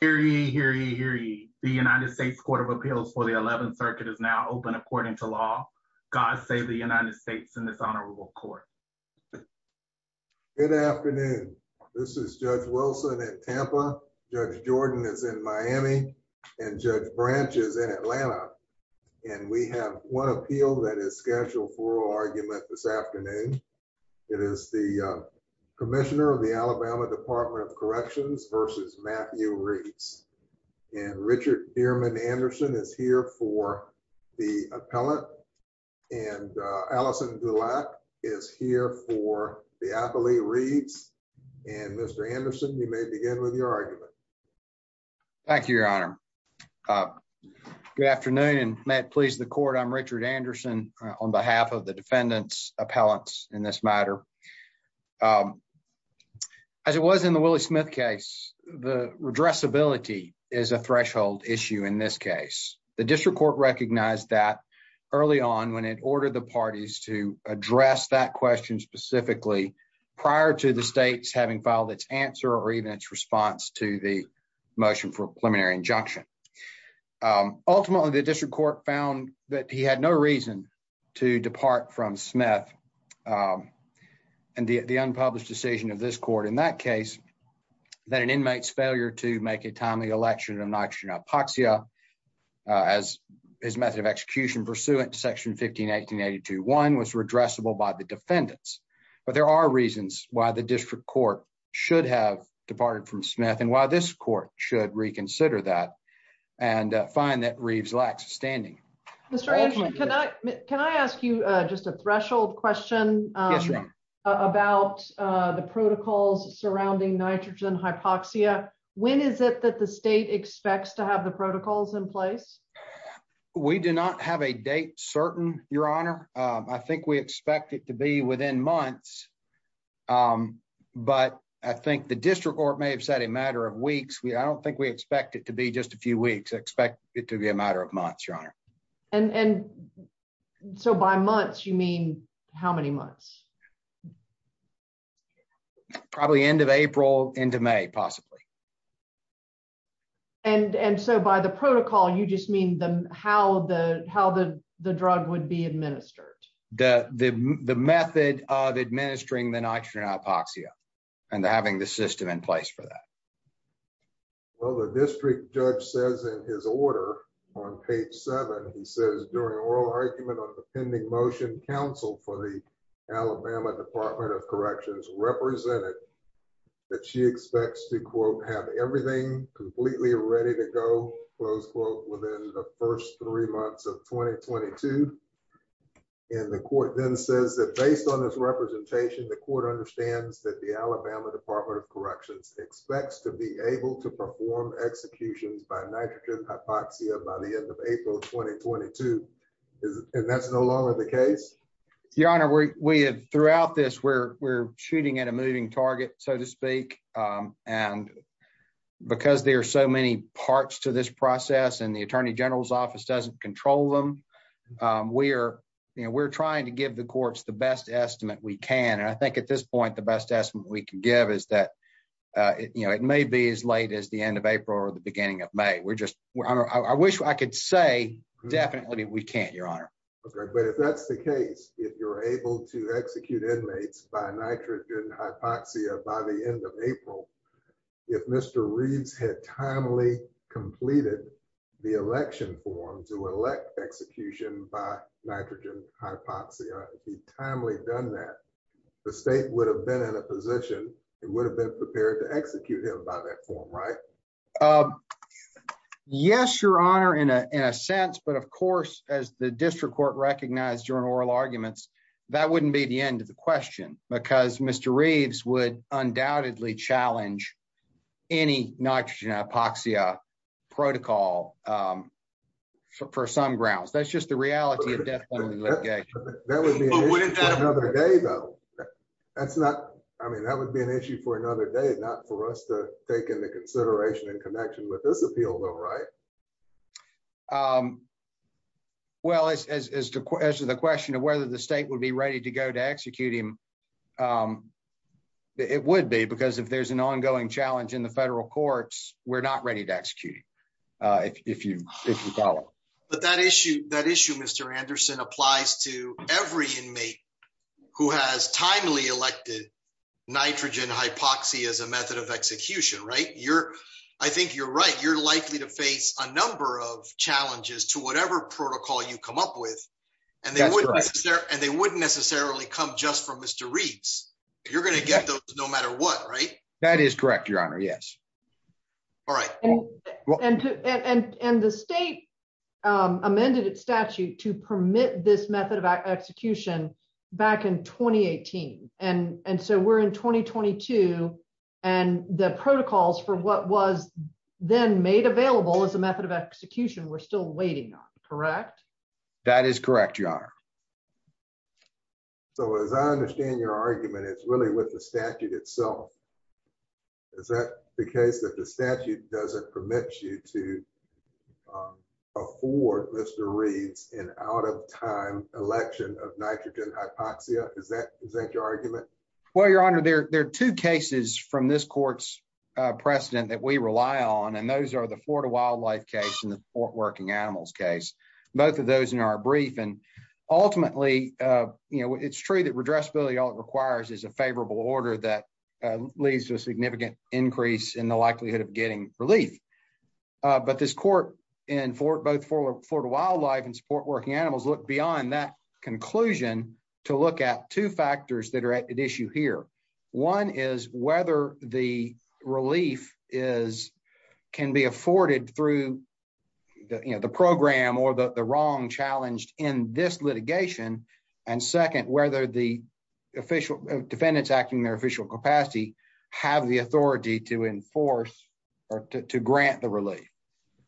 Here he here he here he the United States Court of Appeals for the 11th Circuit is now open according to law. God save the United States in this honorable court. Good afternoon, this is Judge Wilson at Tampa, Judge Jordan is in Miami and Judge Branch is in Atlanta and we have one appeal that is scheduled for argument this afternoon. It is the Commissioner of the Alabama Department of Corrections versus Matthew Reeves and Richard Dearman Anderson is here for the appellant and Allison Gulak is here for the appellee Reeves and Mr. Anderson, you may begin with your argument. Thank you, Your Honor. Good afternoon and may it please the court, I'm Richard Anderson on behalf of the Willie Smith case. The addressability is a threshold issue in this case. The district court recognized that early on when it ordered the parties to address that question specifically prior to the states having filed its answer or even its response to the motion for preliminary injunction. Um, ultimately the district court found that he had no reason to depart from Smith. Um, and the unpublished decision of this court in that case that an inmate's failure to make a timely election of nitrogen hypoxia as his method of execution pursuant to section 15 18 82 1 was redressable by the defendants. But there are reasons why the district court should have departed from Smith and why this court should reconsider that and find that Reeves lacks standing. Mr. About the protocols surrounding nitrogen hypoxia. When is it that the state expects to have the protocols in place? We do not have a date certain, Your Honor. I think we expect it to be within months. Um, but I think the district court may have said a matter of weeks. We I don't think we expect it to be just a few weeks. Expect it to be a matter of months, Your Honor. And so by months you mean how many months probably end of April into May possibly. And and so by the protocol, you just mean how the how the drug would be administered. The method of administering the nitrogen hypoxia and having the system in place for that. Well, the district judge says in his order on page seven, he says during oral argument on the pending motion counsel for the Alabama Department of Corrections represented that she expects to quote have everything completely ready to go close quote within the first three months of 2022. And the court then says that based on this representation, the court understands that the Alabama Department of Corrections expects to be able to and that's no longer the case, Your Honor. We have throughout this. We're shooting at a moving target, so to speak. Um, and because there are so many parts to this process and the attorney general's office doesn't control them. Um, we're, you know, we're trying to give the courts the best estimate we can. And I think at this point, the best estimate we can give is that, uh, you know, it may be as late as the end of April or the beginning of May. We're just I wish I could say definitely we can't, Your Honor. But if that's the case, if you're able to execute inmates by nitrogen hypoxia by the end of April, if Mr Reeds had timely completed the election form to elect execution by nitrogen hypoxia be timely done that the state would have been in a position. It would have been prepared to execute him by that form, right? Um, yes, Your Honor, in a in a sense. But of course, as the district court recognized during oral arguments, that wouldn't be the end of the question because Mr Reeves would undoubtedly challenge any nitrogen hypoxia protocol. Um, for some grounds, that's just the reality of death. That would be another day, though. That's not. I mean, that would be an issue for another day, not for us to take into consideration in connection with this appeal, though, right? Um, well, as as to the question of whether the state would be ready to go to execute him. Um, it would be because if there's an ongoing challenge in the federal courts, we're not ready to execute. Uh, if you if you follow, but that issue that issue, Mr Anderson applies to every inmate who has timely elected nitrogen hypoxia is a method of execution, right? You're I think you're right. You're likely to face a number of challenges to whatever protocol you come up with, and they wouldn't necessarily come just from Mr Reeves. You're gonna get those no matter what, right? That is correct, Your Honor. Yes. All right. And and the state amended its statute to permit this method of execution back in 2018. And and so we're in 2022. And the protocols for what was then made available as a method of execution were still waiting on. Correct. That is correct, Your Honor. So, as I understand your argument, it's really with the statute itself. Is that the case that the statute doesn't permit you to, um, afford Mr time election of nitrogen hypoxia? Is that is that your argument? Well, Your Honor, there are two cases from this court's precedent that we rely on, and those are the Florida wildlife case in the port working animals case. Both of those in our brief and ultimately, uh, you know, it's true that redressability all it requires is a favorable order that leads to a significant increase in the likelihood of getting relief. But this court in both for for the wildlife and support working animals look beyond that conclusion to look at two factors that are at issue here. One is whether the relief is can be afforded through the program or the wrong challenged in this litigation. And second, whether the official defendants acting their official capacity have the authority to enforce or to grant the relief.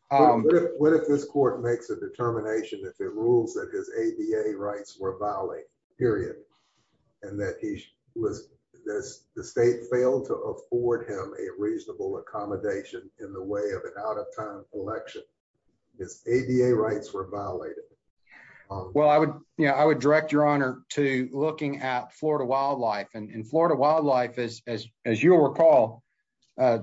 What if what if this court makes a determination if it rules that his A. B. A. Rights were violent period and that he was the state failed to afford him a reasonable accommodation in the way of an out of time election. His A. B. A. Rights were violated. Well, I would, you know, I would direct your honor to looking at Florida wildlife and Florida wildlife is, as you'll recall, uh,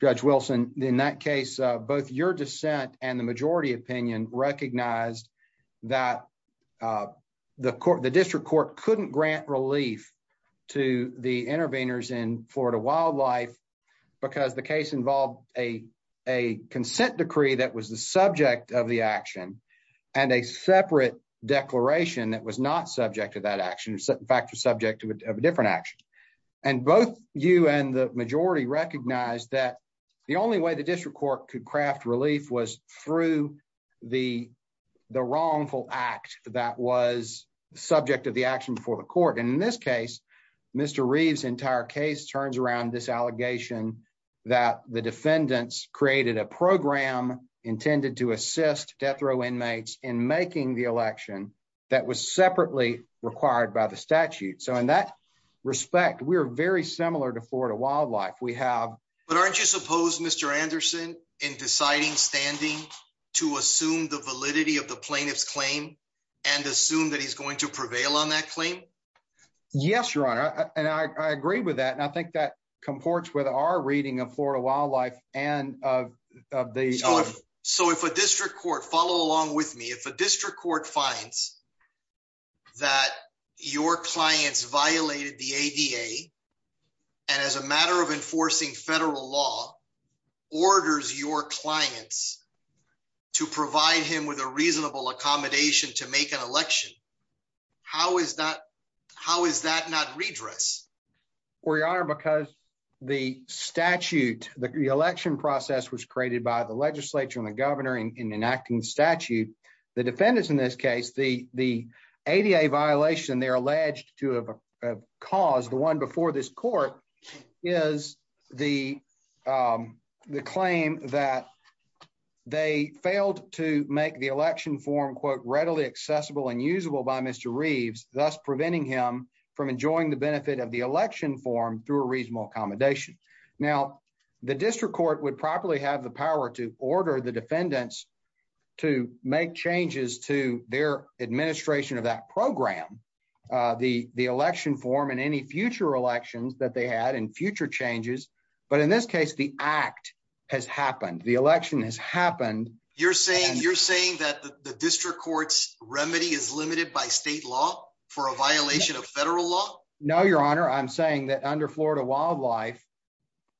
Judge Wilson. In that case, both your dissent and the majority opinion recognized that, uh, the court, the district court couldn't grant relief to the interveners in Florida wildlife because the case involved a consent decree that was the subject of the action and a separate declaration that was not subject to that action. In fact, we're subject to a different action. And both you and the majority recognized that the only way the district court could craft relief was through the wrongful act that was subject of the action before the court. And in this case, Mr Reeves entire case turns around this allegation that the defendants created a program intended to assist death row inmates in making the election that was separately required by the statute. So in that respect, we're very similar to Florida wildlife. We have. But aren't you supposed Mr Anderson in deciding standing to assume the validity of the plaintiff's claim and assume that he's going to prevail on that claim? Yes, your honor. And I agree with that. And I think that comports with our reading of Florida wildlife and of the so if a district court finds that your clients violated the A. D. A. And as a matter of enforcing federal law orders your clients to provide him with a reasonable accommodation to make an election. How is that? How is that not redress? We are because the statute, the election process was created by the defendants. In this case, the A. D. A. Violation they're alleged to have caused the one before this court is the, um, the claim that they failed to make the election form quote readily accessible and usable by Mr Reeves, thus preventing him from enjoying the benefit of the election form through a reasonable accommodation. Now, the district court would properly have the power to order the defendants to make changes to their administration of that program. Uh, the election form and any future elections that they had in future changes. But in this case, the act has happened. The election has happened. You're saying you're saying that the district court's remedy is limited by state law for a violation of federal law? No, your honor. I'm saying that under florida wildlife,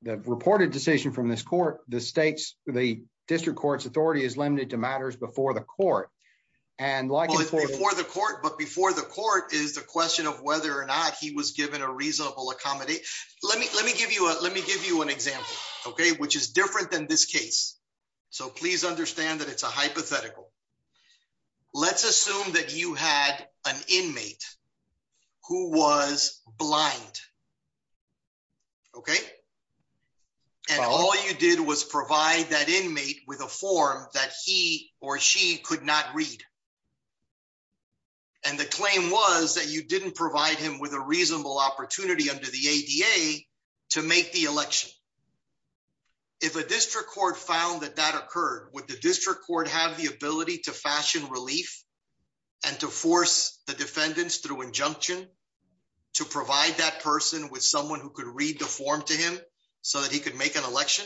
the reported decision from this court, the the district court's authority is limited to matters before the court and like before the court. But before the court is the question of whether or not he was given a reasonable accommodate. Let me let me give you a let me give you an example. Okay. Which is different than this case. So please understand that it's a hypothetical. Let's assume that you had an inmate who was blind. Okay. And all you did was provide that inmate with a form that he or she could not read. And the claim was that you didn't provide him with a reasonable opportunity under the A. D. A. To make the election. If a district court found that that occurred with the district court have the ability to fashion relief and to force the defendants through injunction to provide that person with someone who could read the form to him so that he could make an election.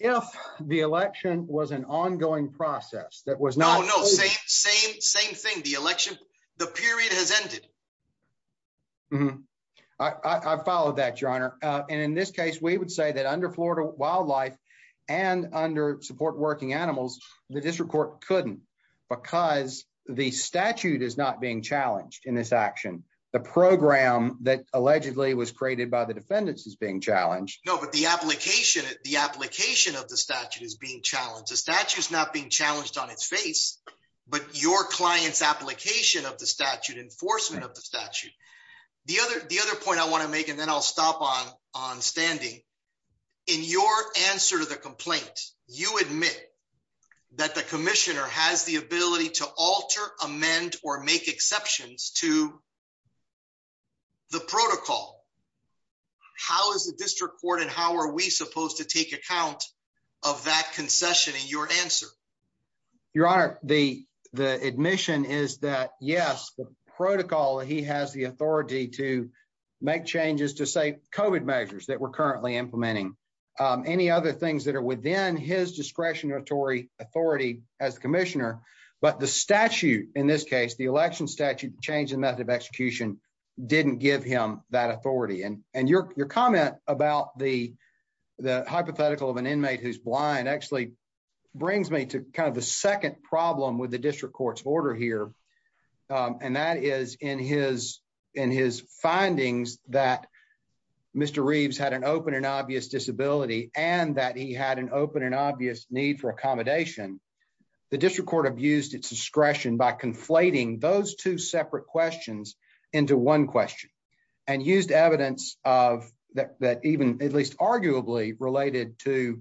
If the election was an ongoing process that was no, no, same, same, same thing. The election, the period has ended. Mhm. I followed that your honor. And in this case we would say that under florida wildlife and under support working animals, the district court couldn't because the statute is not being challenged in this action. The program that allegedly was created by the defendants is being challenged. No, but the application, the application of the statute is being challenged. The statute is not being challenged on its face, but your client's application of the statute enforcement of the statute. The other, the other point I want to make and then I'll stop on on standing in your answer to the complaint. You admit that the commissioner has the ability to alter amend or make exceptions to the protocol. How is the district court and how are we supposed to take account of that concession in your answer? Your honor, the admission is that yes, the protocol he has the authority to make changes to say covid measures that we're currently implementing. Um, any other things that are within his discretionary authority as commissioner. But the statute in this case, the election statute changed the method of execution, didn't give him that authority. And your comment about the hypothetical of an inmate who's blind actually brings me to kind of the second problem with the district court's order here. Um, that is in his, in his findings that Mr Reeves had an open and obvious disability and that he had an open and obvious need for accommodation. The district court abused its discretion by conflating those two separate questions into one question and used evidence of that, that even at least arguably related to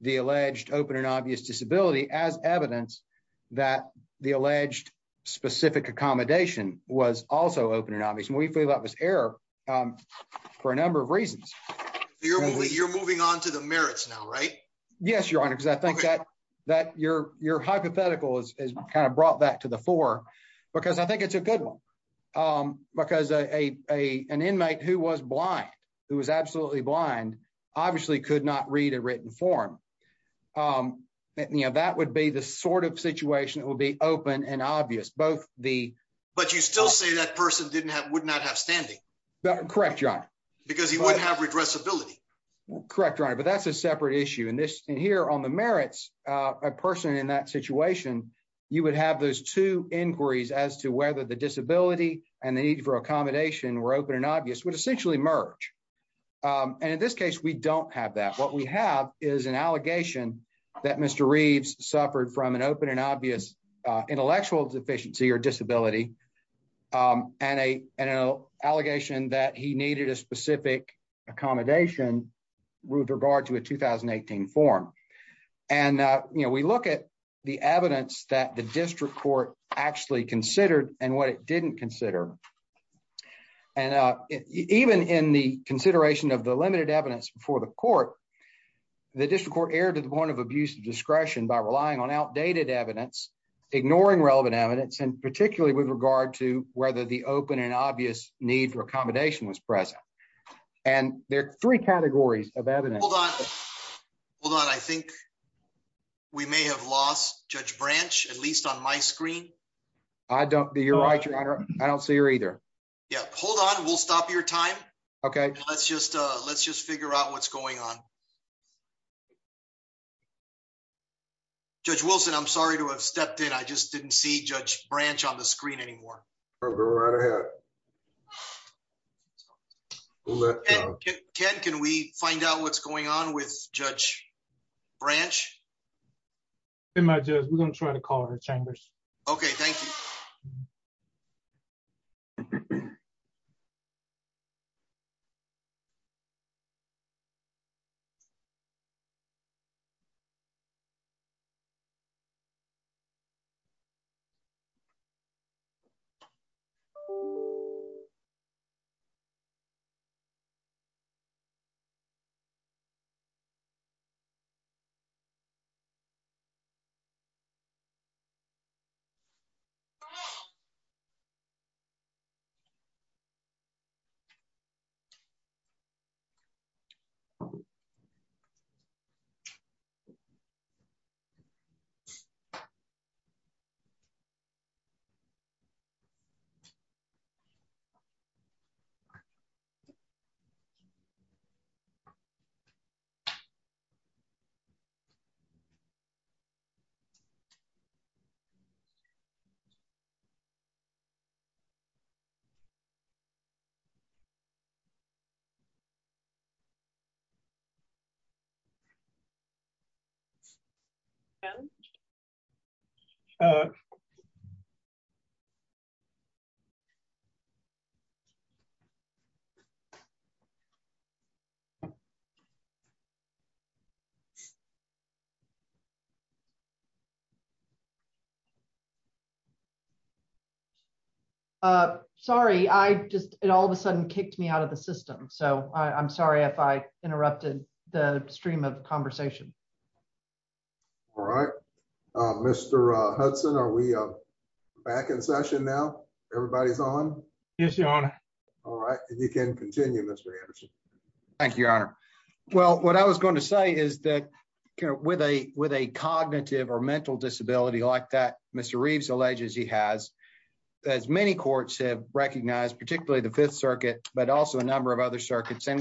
the alleged open and obvious disability as evidence that the alleged specific accommodation was also open and obvious. And we feel that was error. Um, for a number of reasons, you're moving on to the merits now, right? Yes, your honor. Because I think that that your hypothetical is kind of brought that to the floor because I think it's a good one. Um, because a inmate who was blind, who was absolutely blind, obviously could not read a written form. Um, you know, that would be the sort of situation that would be open and obvious. Both the, but you still say that person didn't have, would not have standing. Correct, your honor. Because he wouldn't have redress ability. Correct, your honor. But that's a separate issue in this here on the merits, a person in that situation, you would have those two inquiries as to whether the disability and the need for accommodation were open and obvious would essentially merge. Um, and in this case we don't have that. What we have is an allegation that Mr Reeves suffered from an open and obvious intellectual deficiency or disability. Um, and a allegation that he needed a specific accommodation with regard to a 2018 form. And you know, we look at the evidence that the district court actually considered and what it didn't consider. And uh, even in the consideration of the limited evidence before the court, the district court to the point of abuse of discretion by relying on outdated evidence, ignoring relevant evidence and particularly with regard to whether the open and obvious need for accommodation was present. And there are three categories of evidence. Hold on. Hold on. I think we may have lost Judge Branch, at least on my screen. I don't. You're right. I don't see her either. Yeah. Hold on. We'll stop your time. Okay, let's just let's just figure out what's going on. Yeah. Judge Wilson, I'm sorry to have stepped in. I just didn't see Judge Branch on the screen anymore. I'll go right ahead. Okay, can we find out what's going on with Judge Branch? In my judge, we're gonna try to call her chambers. Okay, thank you. Mhm. Yeah. Mhm. Mhm. Yeah. Mhm. Mhm. Yeah. Mhm. Yeah. Uh huh. Mhm. Uh sorry. I just it all of a sudden kicked me out of the system. So I'm sorry if I interrupted the stream of conversation. All right. Mr Hudson. Are we back in session now? Everybody's on. Yes. Your honor. All right. And you can continue Mr Anderson. Thank you. Your honor. Well what I was going to say is that with a with a cognitive or mental disability like that Mr Reeves alleges he has as many courts have recognized particularly the Fifth Circuit but also a number of other circuits and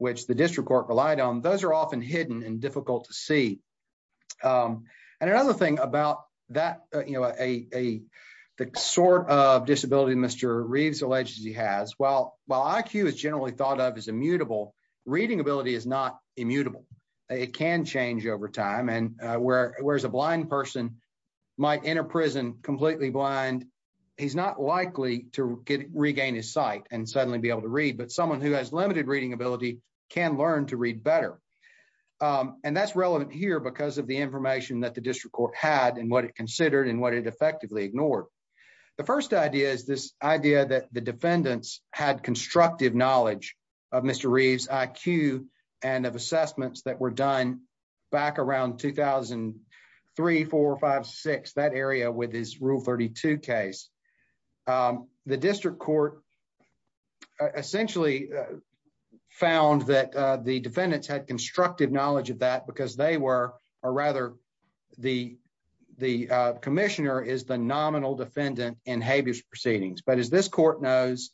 was court relied on. Those are often hidden and difficult to see. Um and another thing about that, you know, a the sort of disability Mr Reeves alleged he has while while Iq is generally thought of as immutable reading ability is not immutable. It can change over time and where where's a blind person might enter prison completely blind. He's not likely to regain his sight and suddenly be able to read. But someone who has limited reading ability can learn to read better. Um and that's relevant here because of the information that the district court had and what it considered and what it effectively ignored. The first idea is this idea that the defendants had constructive knowledge of Mr Reeves Iq and of assessments that were done back around 2000 and 3456 that area with his rule 32 case. Um the district court essentially found that the defendants had constructive knowledge of that because they were or rather the the commissioner is the nominal defendant in habeas proceedings. But as this court knows,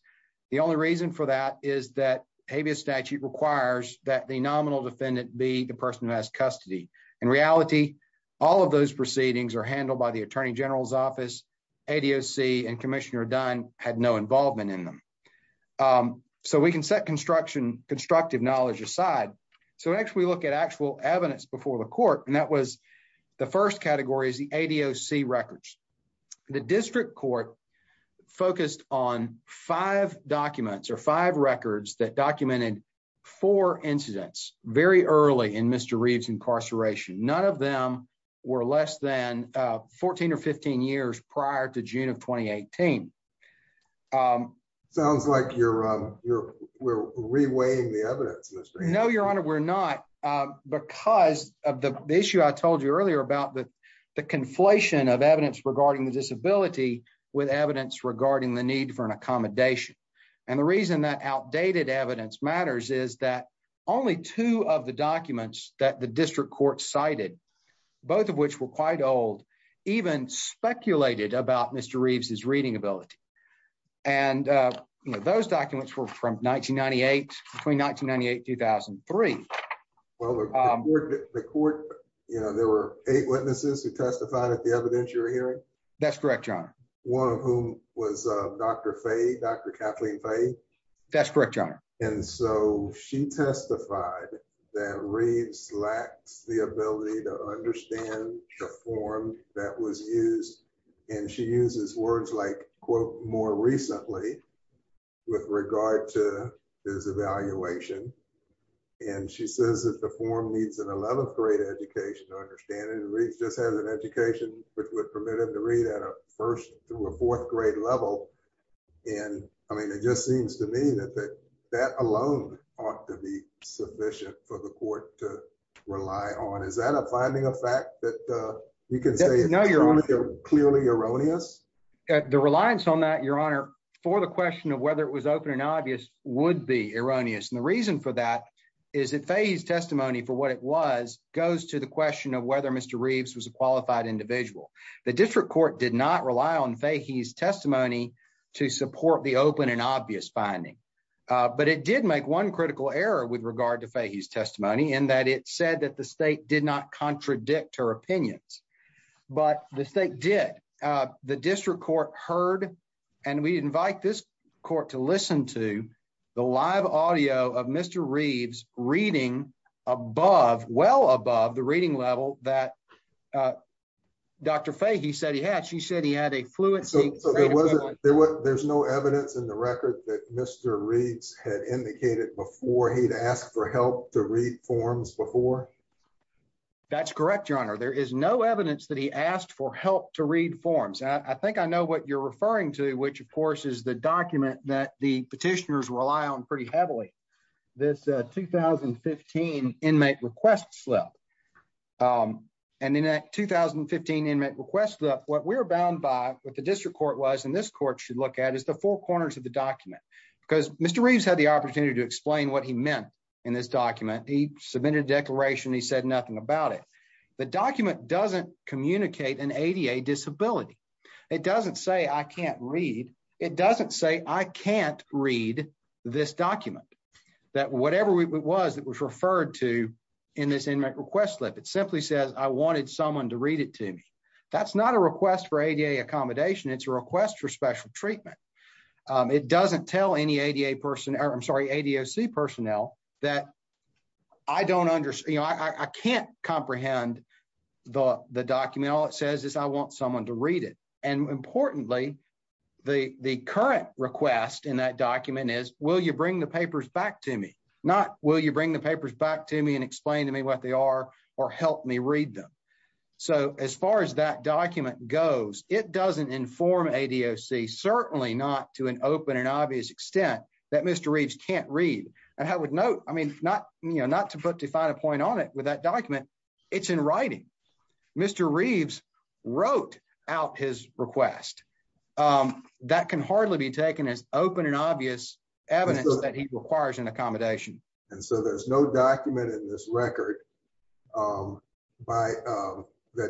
the only reason for that is that habeas statute requires that the nominal defendant be the person who has custody. In reality, all of those proceedings are handled by the attorney general's office. A. D. O. C. And Commissioner Dunn had no involvement in them. Um so we can set construction constructive knowledge aside. So next we look at actual evidence before the court and that was the first category is the A. D. O. C. Records. The district court focused on five documents or five incidents very early in Mr Reeves incarceration. None of them were less than uh 14 or 15 years prior to june of 2018. Um sounds like you're um we're reweighing the evidence. No, your honor. We're not because of the issue I told you earlier about the conflation of evidence regarding the disability with evidence regarding the need for an accommodation. And the reason that only two of the documents that the district court cited, both of which were quite old, even speculated about Mr Reeves is reading ability. And uh those documents were from 1998 between 1998 2003. Well, um the court, you know, there were eight witnesses who testified at the evidentiary hearing. That's correct. John, one of whom was Dr Faye, Dr Kathleen Faye. That's correct. And so she testified that reads lacks the ability to understand the form that was used and she uses words like quote more recently with regard to his evaluation. And she says that the form needs an 11th grade education to understand it just has an education which would permit him to read at a first through a fourth grade level. And I mean it just seems to me that alone ought to be sufficient for the court to rely on. Is that a finding of fact that uh you can say no, you're clearly erroneous. The reliance on that your honor for the question of whether it was open and obvious would be erroneous. And the reason for that is that phase testimony for what it was goes to the question of whether Mr Reeves was a qualified individual. The district court did not rely on fake. He's testimony to support the open and but it did make one critical error with regard to fake. He's testimony and that it said that the state did not contradict her opinions. But the state did. Uh the district court heard and we invite this court to listen to the live audio of Mr Reeves reading above well above the reading level that uh Dr Fahey said he had. She said he had a fluency. There's no evidence in the reads had indicated before he'd asked for help to read forms before. That's correct. Your honor. There is no evidence that he asked for help to read forms. I think I know what you're referring to, which of course is the document that the petitioners rely on pretty heavily. This 2015 inmate request slip. Um and in that 2015 inmate request slip, what we're bound by what the district court was in this court should look at is the four corners of document because Mr Reeves had the opportunity to explain what he meant in this document. He submitted declaration. He said nothing about it. The document doesn't communicate an ADA disability. It doesn't say I can't read. It doesn't say I can't read this document that whatever it was that was referred to in this inmate request slip. It simply says I wanted someone to read it to me. That's not a request for ADA accommodation. It's a request for special treatment. Um it doesn't tell any ADA person or I'm sorry ADOC personnel that I don't understand. I can't comprehend the document. All it says is I want someone to read it and importantly the current request in that document is will you bring the papers back to me? Not will you bring the papers back to me and explain to me what they are or help me read them. So as far as that document goes it doesn't inform ADOC certainly not to an open and obvious extent that Mr Reeves can't read and I would note I mean not you know not to put define a point on it with that document. It's in writing. Mr Reeves wrote out his request. Um that can hardly be taken as open and obvious evidence that he requires an accommodation. And so there's no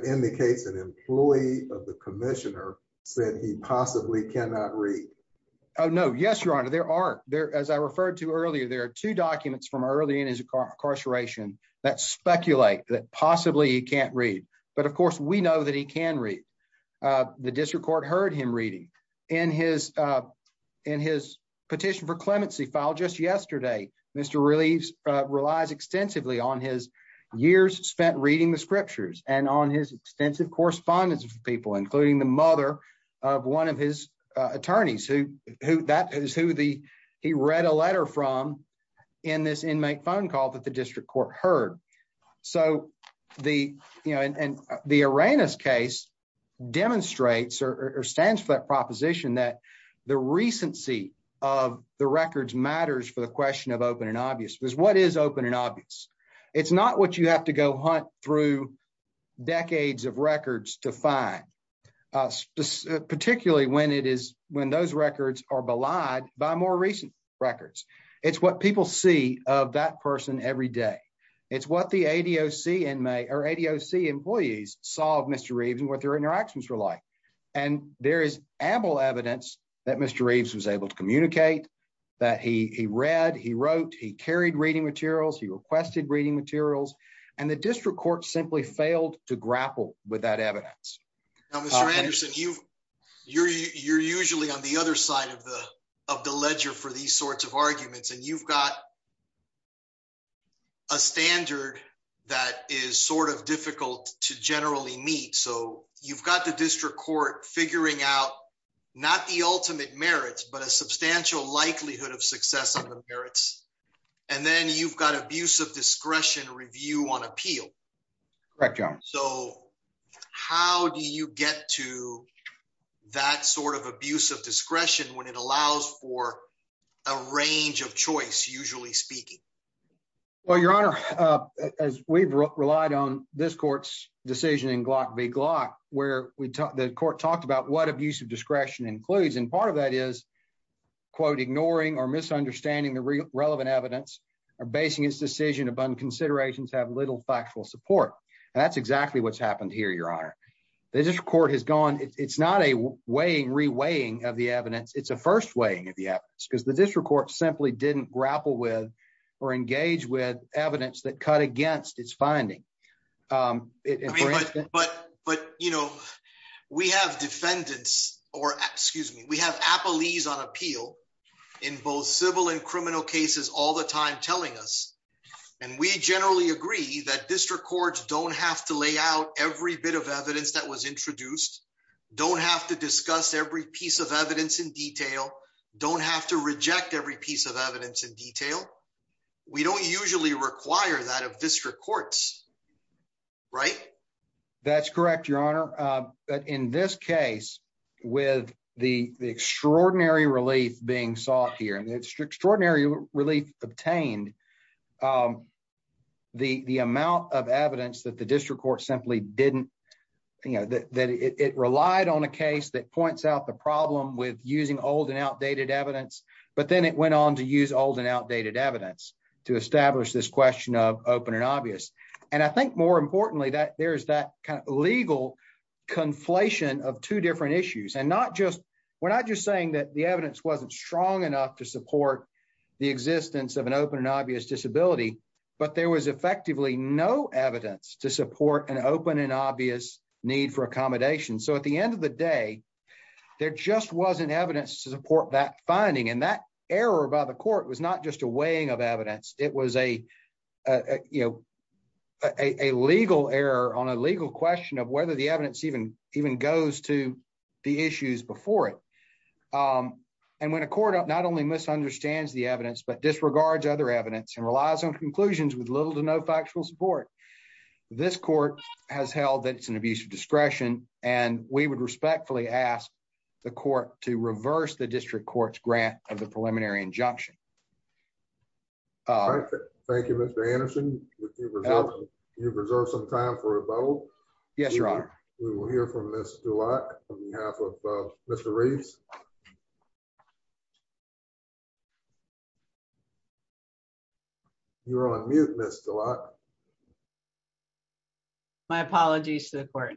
indicates an employee of the commissioner said he possibly cannot read. Oh no. Yes your honor. There are there as I referred to earlier there are two documents from early in his incarceration that speculate that possibly he can't read. But of course we know that he can read uh the district court heard him reading in his uh in his petition for clemency file just yesterday. Mr Reeves relies extensively on his years spent reading the extensive correspondence of people including the mother of one of his attorneys who who that is who the he read a letter from in this inmate phone call that the district court heard. So the you know and the arenas case demonstrates or stands for that proposition that the recency of the records matters for the question of open and obvious because what is open and obvious? It's not what you have to go hunt through decades of records to find uh particularly when it is when those records are belied by more recent records. It's what people see of that person every day. It's what the ADOC inmate or ADOC employees saw of Mr Reeves and what their interactions were like. And there is ample evidence that Mr Reeves was able to communicate that he read, he wrote, he carried reading materials, he requested reading materials and the district court simply failed to grapple with that evidence. Mr Anderson, you you're usually on the other side of the of the ledger for these sorts of arguments and you've got a standard that is sort of difficult to generally meet. So you've got the likelihood of success on the merits and then you've got abuse of discretion review on appeal. Correct. So how do you get to that sort of abuse of discretion when it allows for a range of choice usually speaking? Well, your honor, as we've relied on this court's decision in Glock v Glock where we the court talked about what abuse of discretion includes. And part of that is quote ignoring or misunderstanding the relevant evidence or basing its decision upon considerations have little factual support. And that's exactly what's happened here. Your honor, the district court has gone. It's not a weighing re weighing of the evidence. It's a first weighing of the evidence because the district court simply didn't grapple with or engage with evidence that cut against its finding. Um but but you know, we have defendants or excuse me, we have a police on appeal in both civil and criminal cases all the time telling us and we generally agree that district courts don't have to lay out every bit of evidence that was introduced, don't have to discuss every piece of evidence in detail, don't have to reject every piece of evidence in detail. We don't usually require that of district courts. Right. That's correct. Your honor. But in this case with the extraordinary relief being sought here and it's extraordinary relief obtained um the amount of evidence that the district court simply didn't, you know, that it relied on a case that points out the problem with using old and outdated evidence. But then it went on to use old and outdated evidence to establish this question of open and obvious. And I think more importantly that there's that kind of legal conflation of two different issues and not just, we're not just saying that the evidence wasn't strong enough to support the existence of an open and obvious disability, but there was effectively no evidence to support an open and obvious need for accommodation. So at the end of the day, there just wasn't evidence to support that finding and that error by the uh, you know, a legal error on a legal question of whether the evidence even even goes to the issues before it. Um, and when a court not only misunderstands the evidence but disregards other evidence and relies on conclusions with little to no factual support, this court has held that it's an abuse of discretion and we would respectfully ask the court to reverse the district court's grant of the preliminary injunction. Mhm. All right. Thank you. Mr Anderson. You preserve some time for a vote. Yes, you're on. We will hear from this to walk on behalf of Mr Reeves. You're on mute. Mr. Lock. My apologies to the court.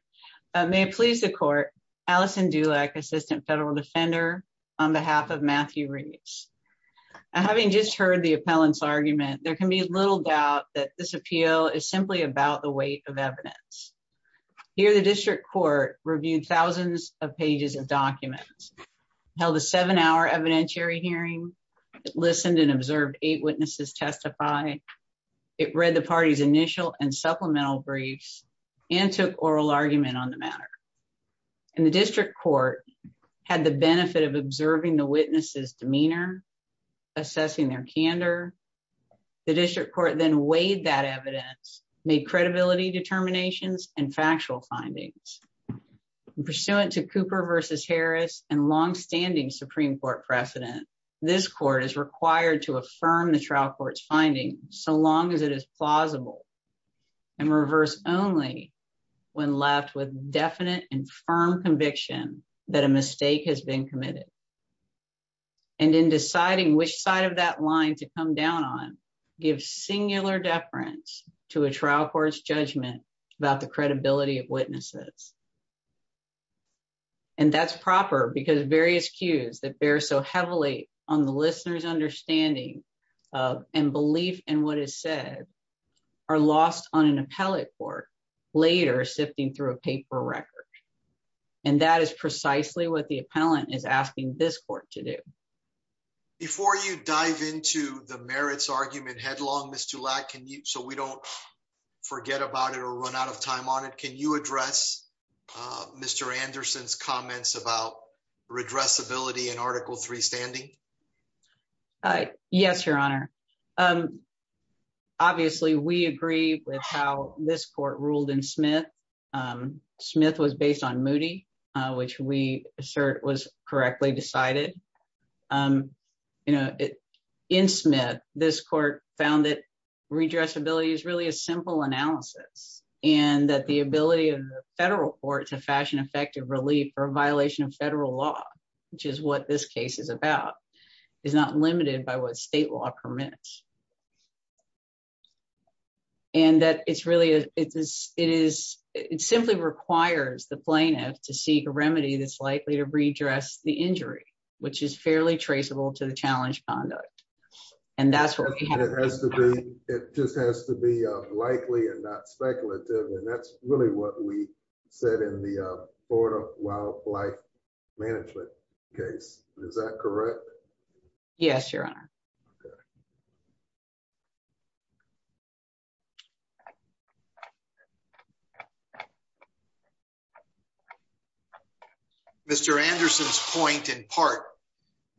May it please the court. Allison Dulac, assistant federal defender on behalf of Matthew Reeves. Having just heard the appellants argument, there can be little doubt that this appeal is simply about the weight of evidence here. The district court reviewed thousands of pages of documents held a seven hour evidentiary hearing, listened and observed eight witnesses testify. It read the party's initial and supplemental briefs and took oral argument on the matter in the district court had the benefit of observing the witnesses demeanor, assessing their candor. The district court then weighed that evidence, made credibility determinations and factual findings pursuant to cooper versus Harris and longstanding Supreme Court precedent. This court is required to affirm the trial court's finding so long as it is plausible and reverse only when left with definite and firm conviction that a mistake has been committed and in deciding which side of that line to come down on give singular deference to a trial court's judgment about the credibility of witnesses. And that's proper because various cues that bear so heavily on the listeners understanding of and belief in what is said are lost on an appellate court later sifting through a paper record. And that is precisely what the appellant is asking this court to do. Before you dive into the merits argument headlong, Mr Lac. Can you so we don't forget about it or run out of time on it. Can you address Mr Anderson's comments about redress ability in Article three standing? Uh, yes, Your Honor. Um, obviously, we agree with how this court ruled in Smith. Um, Smith was based on Moody, which we assert was correctly decided. Um, you know, in Smith, this court found that redress ability is really a simple analysis and that the ability of the federal court to fashion effective relief for a violation of federal law, which is what this case is about, is not limited by what state law permits. And that it's really it is. It is. It simply requires the plaintiff to seek a remedy that's likely to redress the injury, which is fairly traceable to the challenge conduct. And that's what it has to be. It just has to be likely and not speculative. And that's really what we said in the border wildlife management case. Is that correct? Yes, Your Honor. Mr Anderson's point in part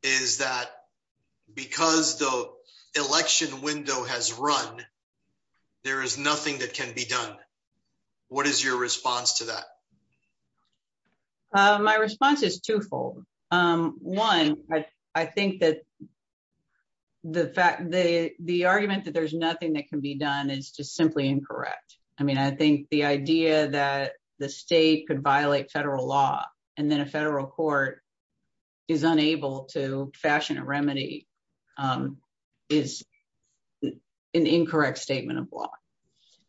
is that because the election window has run, there is nothing that can be done. What is your response to that? Uh, my response is twofold. Um, one, I think that the fact the argument that there's nothing that can be done is just simply incorrect. I mean, I think the idea that the state could violate federal law and then a federal court is unable to fashion a remedy, um, is an incorrect statement of law.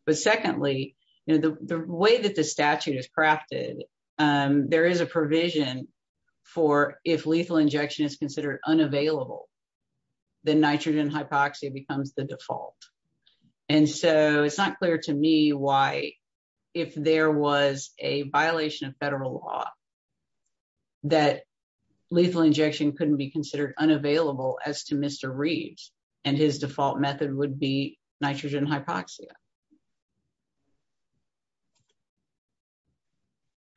But I think that there is a provision for if lethal injection is considered unavailable, the nitrogen hypoxia becomes the default. And so it's not clear to me why, if there was a violation of federal law, that lethal injection couldn't be considered unavailable as to Mr Reeves and his default method would be nitrogen hypoxia.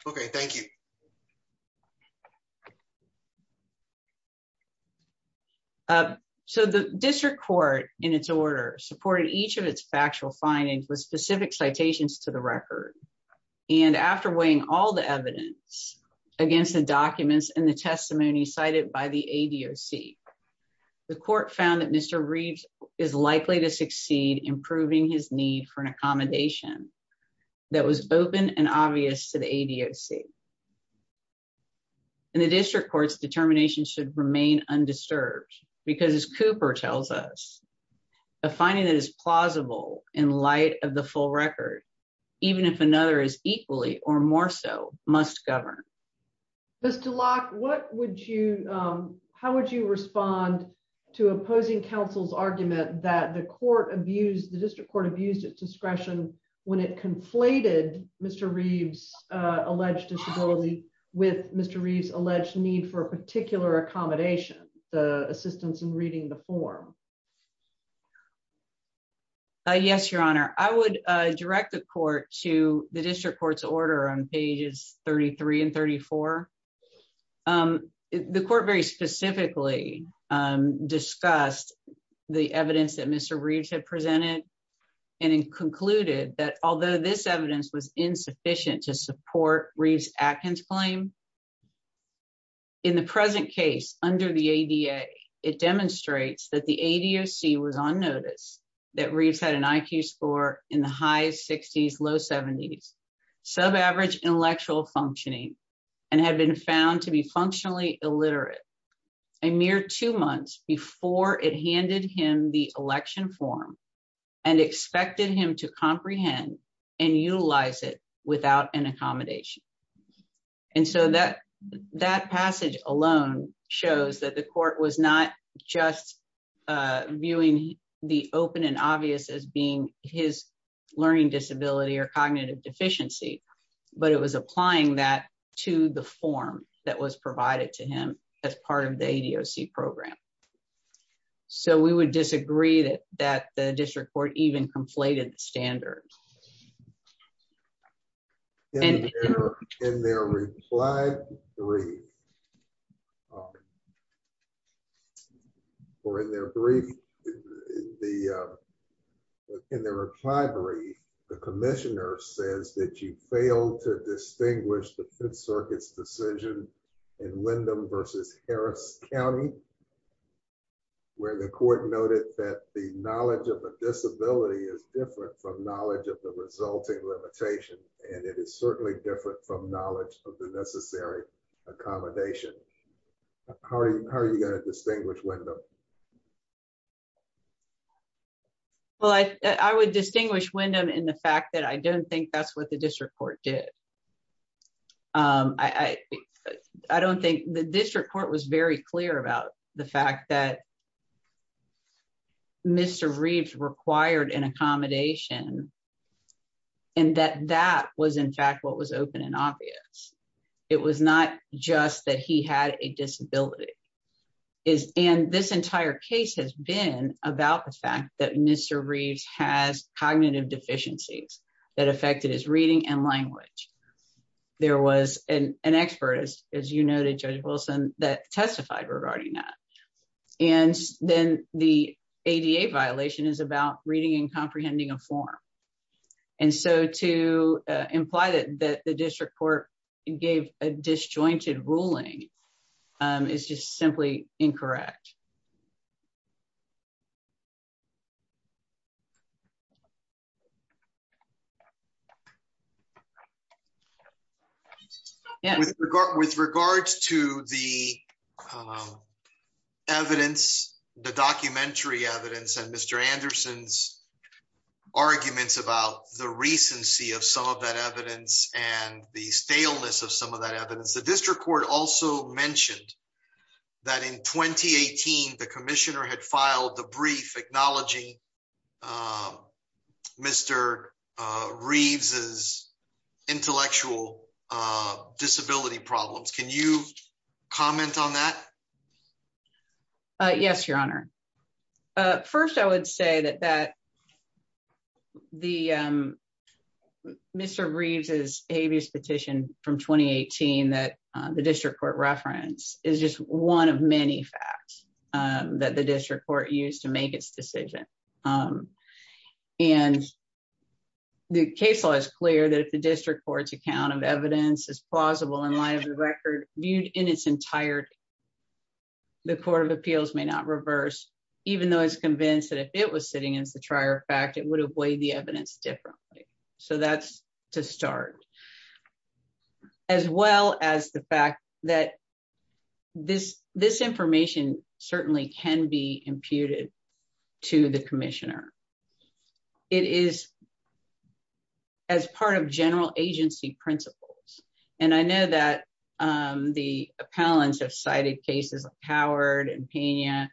Okay, thank you. Uh, so the district court in its order supported each of its factual findings with specific citations to the record. And after weighing all the evidence against the documents and the testimony cited by the A. D. O. C. The court found that Mr Reeves is likely to succeed, improving his need for an A. D. O. C. And the district court's determination should remain undisturbed because Cooper tells us a finding that is plausible in light of the full record, even if another is equally or more so must govern. Mr Locke, what would you how would you respond to opposing counsel's argument that the court abused the Reeves alleged disability with Mr Reeves alleged need for a particular accommodation? The assistance in reading the form. Yes, Your Honor, I would direct the court to the district court's order on pages 33 and 34. Um, the court very specifically, um, discussed the evidence that Mr Reeves had presented and concluded that although this efficient to support Reeves Atkins claim in the present case under the A. D. A. It demonstrates that the A. D. O. C. was on notice that Reeves had an I. Q. Score in the high sixties, low seventies, sub average intellectual functioning and have been found to be functionally illiterate a mere two months before it handed him the without an accommodation. And so that that passage alone shows that the court was not just viewing the open and obvious as being his learning disability or cognitive deficiency, but it was applying that to the form that was provided to him as part of the A. D. O. C. Program. So we would disagree that that the district court even completed the standard and in their reply three or in their brief, the in the reply brief, the commissioner says that you failed to distinguish the Fifth Circuit's decision in Lindam versus Harris County, where the court noted that the knowledge of a disability is different from knowledge of the resulting limitation, and it is certainly different from knowledge of the necessary accommodation. How are you going to distinguish window? Well, I would distinguish Windham in the fact that I don't think that's what the district court did. Um, I I don't think the district court was very clear about the fact that Mr Reeves required an accommodation and that that was in fact what was open and obvious. It was not just that he had a disability is and this entire case has been about the fact that Mr Reeves has cognitive deficiencies that affected his reading and language. There was an expert, as you noted, Judge Wilson that testified regarding that. And then the A. D. A. Violation is about reading and comprehending a form. And so to imply that the district court gave a disjointed ruling is just simply incorrect. Mhm. Yeah, with regard to the, um, evidence, the documentary evidence and Mr Anderson's arguments about the recency of some of that evidence and the staleness of some of that evidence. The district court also mentioned that in 2018, the commissioner had filed the brief acknowledging, uh, Mr Reeves is intellectual, uh, disability problems. Can you comment on that? Yes, Your Honor. Uh, first, I would say that that the, um, Mr Reeves is habeas petition from 2018 that the district court reference is just one of many facts, um, that the district court used to make its decision. Um, and the case law is clear that the district court's account of evidence is plausible in line of the record viewed in its entirety. The Court of Appeals may not reverse, even though it's convinced that if it was sitting as the trier fact it would have weighed the evidence differently. So that's to start with, as well as the fact that this, this information certainly can be imputed to the commissioner. It is as part of general agency principles. And I know that, um, the appellants have cited cases of Howard and Pena,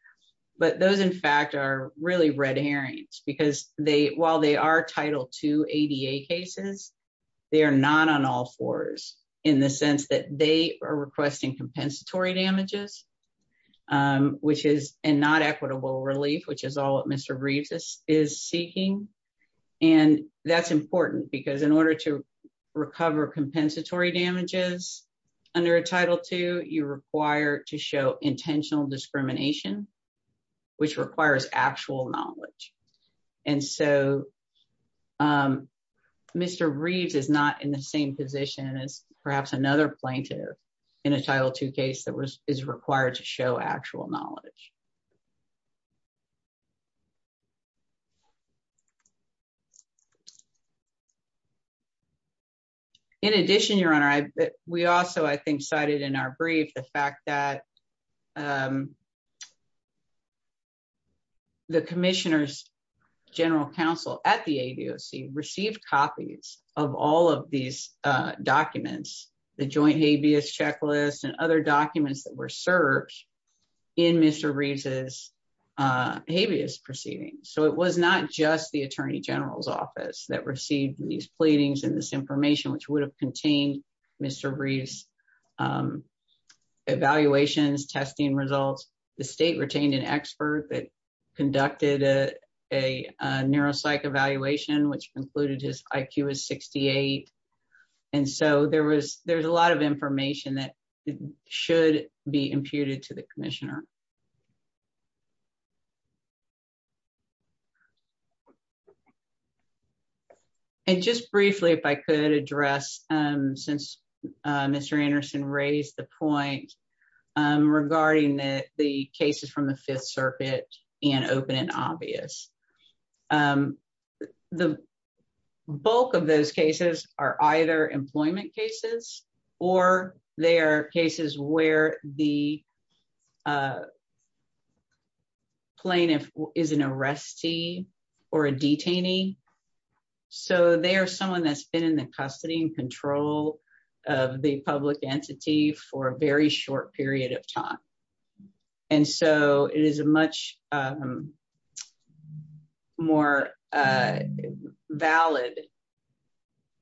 but those in fact are really red herrings because they, while they are title two ADA cases, they are not on all fours in the sense that they are requesting compensatory damages, um, which is not equitable relief, which is all that Mr Reeves is seeking. And that's important because in order to recover compensatory damages under a title two, you require to show intentional discrimination, which requires actual knowledge. And so, um, Mr. Reeves is not in the same position as perhaps another plaintiff in a title two case that was, is required to show actual knowledge. In addition, Your Honor, we also, I think, cited in our brief, the fact that, um, the commissioner's general counsel at the ADOC received copies of all of these, uh, documents, the joint habeas checklist and other documents that were served in Mr. Reeves' habeas proceedings. So it was not just the attorney general's office that received these pleadings and this information, which would have contained Mr. Reeves' evaluations, testing results. The state retained an expert that conducted a neuropsych evaluation, which concluded his IQ as 68. And so there was, there's a lot of information that should be imputed to the commissioner. And just briefly, if I could address, um, since, uh, Mr. Anderson raised the point, um, regarding the cases from the fifth circuit and open and obvious. Um, the bulk of those cases are either employment cases or they are cases where the, uh, plaintiff is an arrestee or a detainee. So they are someone that's been in the custody and control of the public entity for a very short period of time. And so it is a much, um, more, uh, valid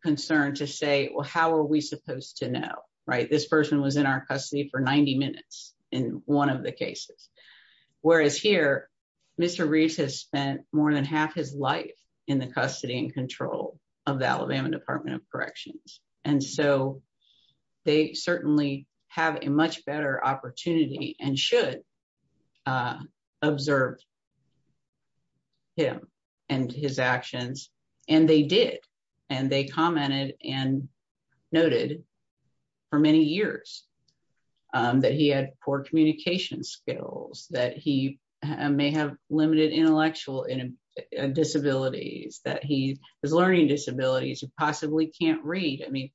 concern to say, well, how are we in one of the cases, whereas here, Mr. Reeves has spent more than half his life in the custody and control of the Alabama department of corrections. And so they certainly have a much better opportunity and should, uh, observed him and his actions. And they did, and they commented and noted for many years, um, that he had poor communication skills, that he may have limited intellectual disabilities, that he is learning disabilities. You possibly can't read. I mean,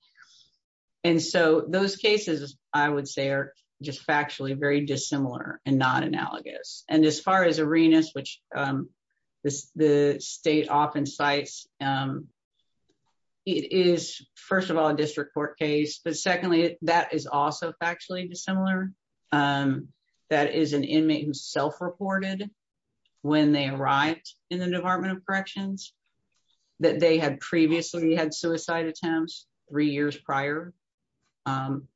and so those cases I would say are just factually very dissimilar and not analogous. And as far as arenas, which, um, the state often cites, um, it is first of all, a district court case, but secondly, that is also factually dissimilar. Um, that is an inmate who self-reported when they arrived in the department of corrections that they had previously had suicide attempts three years prior. Um,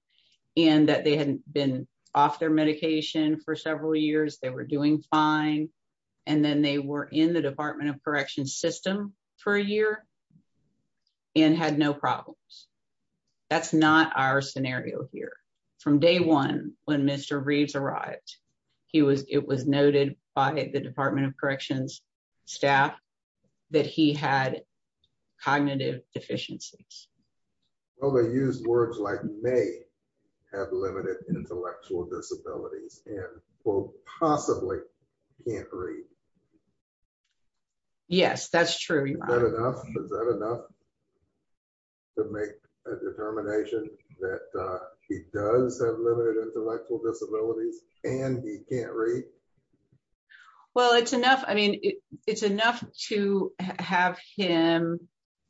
and that they hadn't been off their medication for several years. They were doing fine. And then they were in the correction system for a year and had no problems. That's not our scenario here. From day one, when Mr. Reeves arrived, he was, it was noted by the department of corrections staff that he had cognitive deficiencies. Well, they use words like may have limited intellectual disabilities and possibly can't read. Yes, that's true. To make a determination that, uh, he does have limited intellectual disabilities and he can't read. Well, it's enough. I mean, it's enough to have him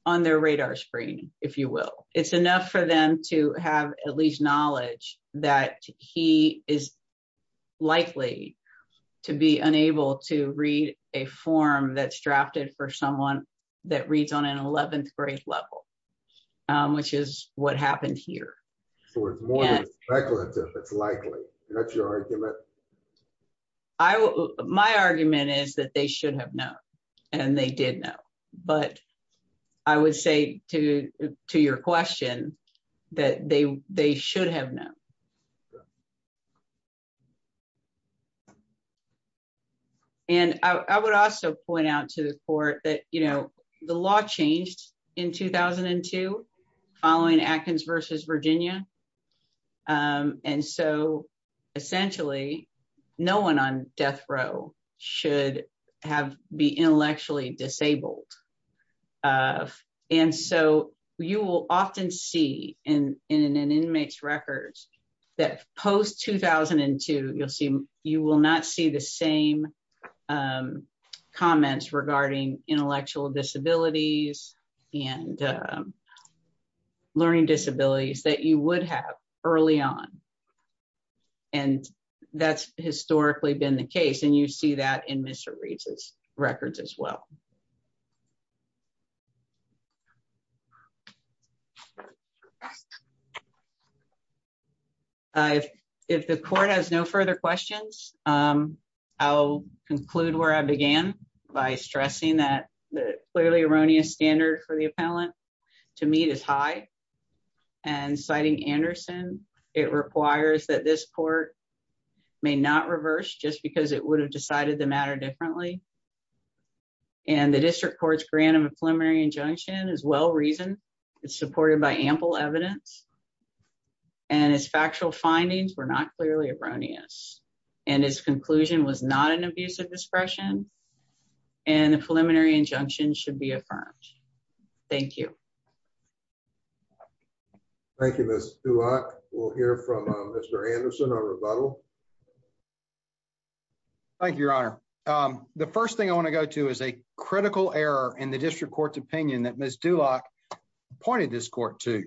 on their radar screen, if you will. It's enough for them to have at least knowledge that he is likely to be unable to read a form that's drafted for someone that reads on an 11th grade level, um, which is what happened here. So it's more than speculative, it's likely. That's your argument? I, my argument is that they should have known and they did know, but I would say to, to your question that they, they should have known. And I would also point out to the court that, you know, the law changed in 2002 following Atkins versus Virginia. Um, and so essentially no one on death row should have be intellectually disabled. Uh, and so you will often see in, in an inmate's records that post 2002, you'll see, you will not see the same, um, comments regarding intellectual disabilities and, um, learning disabilities that you would have early on. And that's historically been the case. And you see that in Mr. Reed's records as well. Okay. Uh, if, if the court has no further questions, um, I'll conclude where I began by stressing that the clearly erroneous standard for the appellant to meet is high and citing Anderson, it requires that this court may not reverse just because it would have decided the matter differently and the district court's grant of a preliminary injunction as well reason it's supported by ample evidence and his factual findings were not clearly erroneous and his conclusion was not an abuse of discretion and the preliminary injunction should be affirmed. Thank you. Thank you, miss. We'll hear from Mr. Anderson on rebuttal. Thank you, your honor. Um, the first thing I want to go to is a critical error in the district court's opinion that miss Duloc pointed this court to,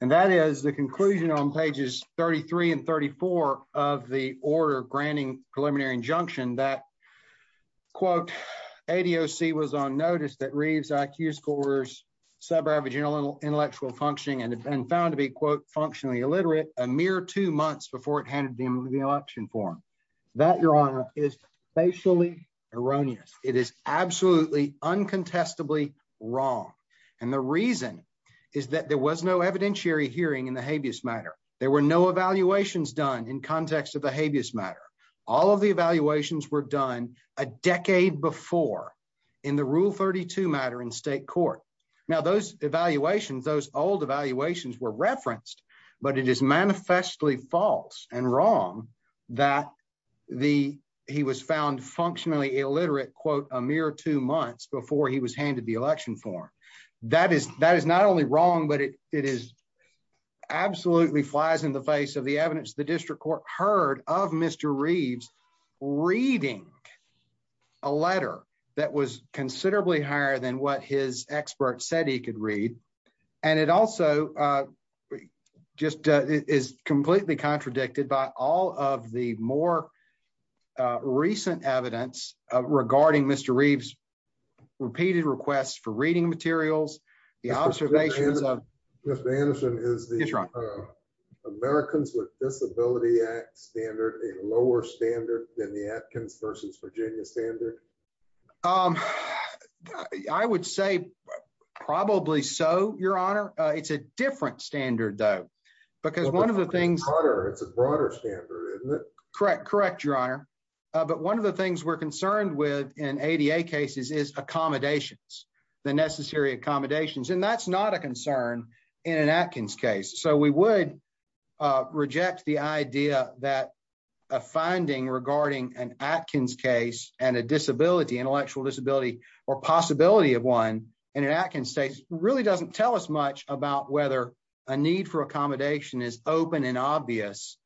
and that is the conclusion on pages 33 and 34 of the order granting preliminary injunction that quote ADOC was on notice that reads IQ scores, sub-average intellectual intellectual functioning, and it's been found to be quote, functionally illiterate a mere two months before it handed them the election form that your honor is facially erroneous. It is absolutely uncontestably wrong. And the reason is that there was no evidentiary hearing in the habeas matter. There were no evaluations done in context of the habeas matter. All of the evaluations were done a decade before in the rule 32 matter in state court. Now those evaluations, those old evaluations were referenced, but it is found functionally illiterate quote a mere two months before he was handed the election form that is, that is not only wrong, but it, it is absolutely flies in the face of the evidence. The district court heard of Mr. Reeves reading a letter that was considerably higher than what his expert said he could read. And it also, uh, just, uh, is completely contradicted by all of the more. Uh, recent evidence, uh, regarding Mr. Reeves repeated requests for reading materials, the observations of Americans with disability act standard, a lower standard than the Atkins versus Virginia standard. Um, I would say probably so your honor. Uh, it's a different standard though, because one of the things it's a broader standard, isn't it? Correct. Correct. Your honor. Uh, but one of the things we're concerned with in ADA cases is accommodations, the necessary accommodations, and that's not a concern in an Atkins case. So we would. Uh, reject the idea that a finding regarding an Atkins case and a disability, intellectual disability, or possibility of one in an Atkins state really doesn't tell us much about whether a need for accommodation is open and obvious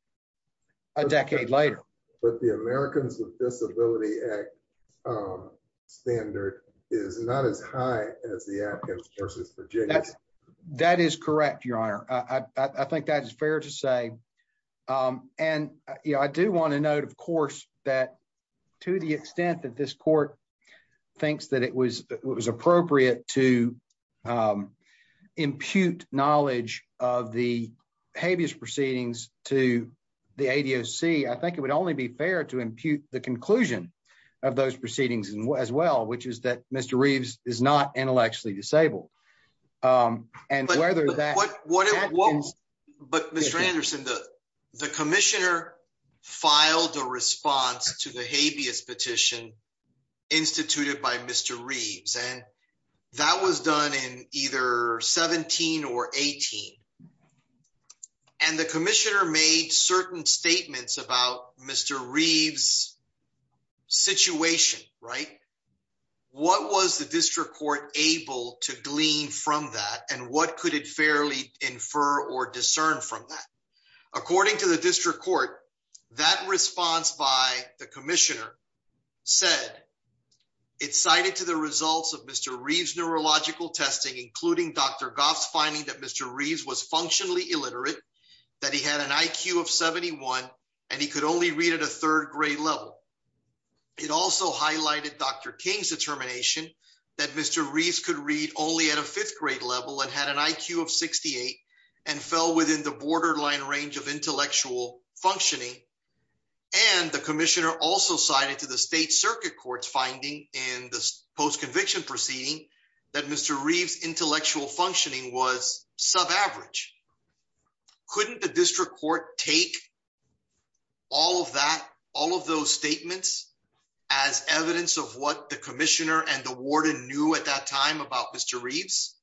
a decade later. But the Americans with disability act, um, standard is not as high as the Atkins versus Virginia. That is correct. Your honor. I think that is fair to say. Um, and I do want to note, of course, that to the extent that this court thinks that it was appropriate to, um, impute knowledge of the habeas proceedings to the ADOC, I think it would only be fair to impute the conclusion of those proceedings as well, which is that Mr. Reeves is not intellectually disabled. Um, and whether that, but Mr. Anderson, the, the commissioner filed a response to the habeas petition. Instituted by Mr. Reeves. And that was done in either 17 or 18. And the commissioner made certain statements about Mr. Reeves situation, right? What was the district court able to glean from that? And what could it fairly infer or discern from that? According to the district court, that response by the commissioner. Said it cited to the results of Mr. Reeves, neurological testing, including Dr. Goff's finding that Mr. Reeves was functionally illiterate, that he had an IQ of 71 and he could only read at a third grade level. It also highlighted Dr. King's determination that Mr. Reeves could read only at a fifth grade level and had an IQ of 68 and fell within the borderline range of intellectual functioning and the state circuit court's finding in the post-conviction proceeding that Mr. Reeves intellectual functioning was sub-average couldn't the district court take all of that, all of those statements as evidence of what the commissioner and the warden knew at that time about Mr. Reeves.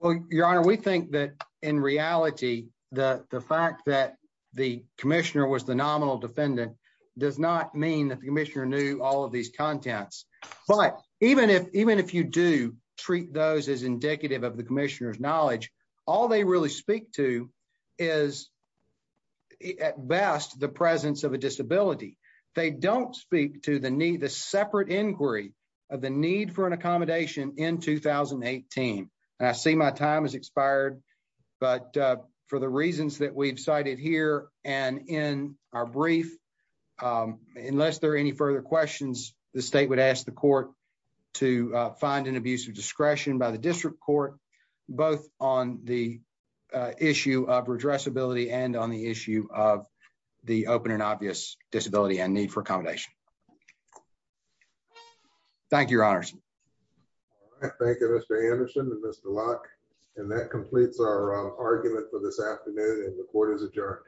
Well, your honor, we think that in reality, the fact that the commissioner was the nominal defendant does not mean that the commissioner knew all of these contents, but even if, even if you do treat those as indicative of the commissioner's knowledge, all they really speak to is at best the presence of a disability, they don't speak to the need, the separate inquiry of the need for an accommodation in 2018. And I see my time has expired, but, uh, for the reasons that we've cited here and in our brief, um, unless there are any further questions, the state would ask the court to, uh, find an abuse of discretion by the district court, both on the, uh, issue of redressability and on the issue of the open and obvious disability and need for accommodation. Thank you, your honors. Thank you, Mr. Anderson and Mr. Locke. And that completes our argument for this afternoon. And the court is adjourned. Thank you.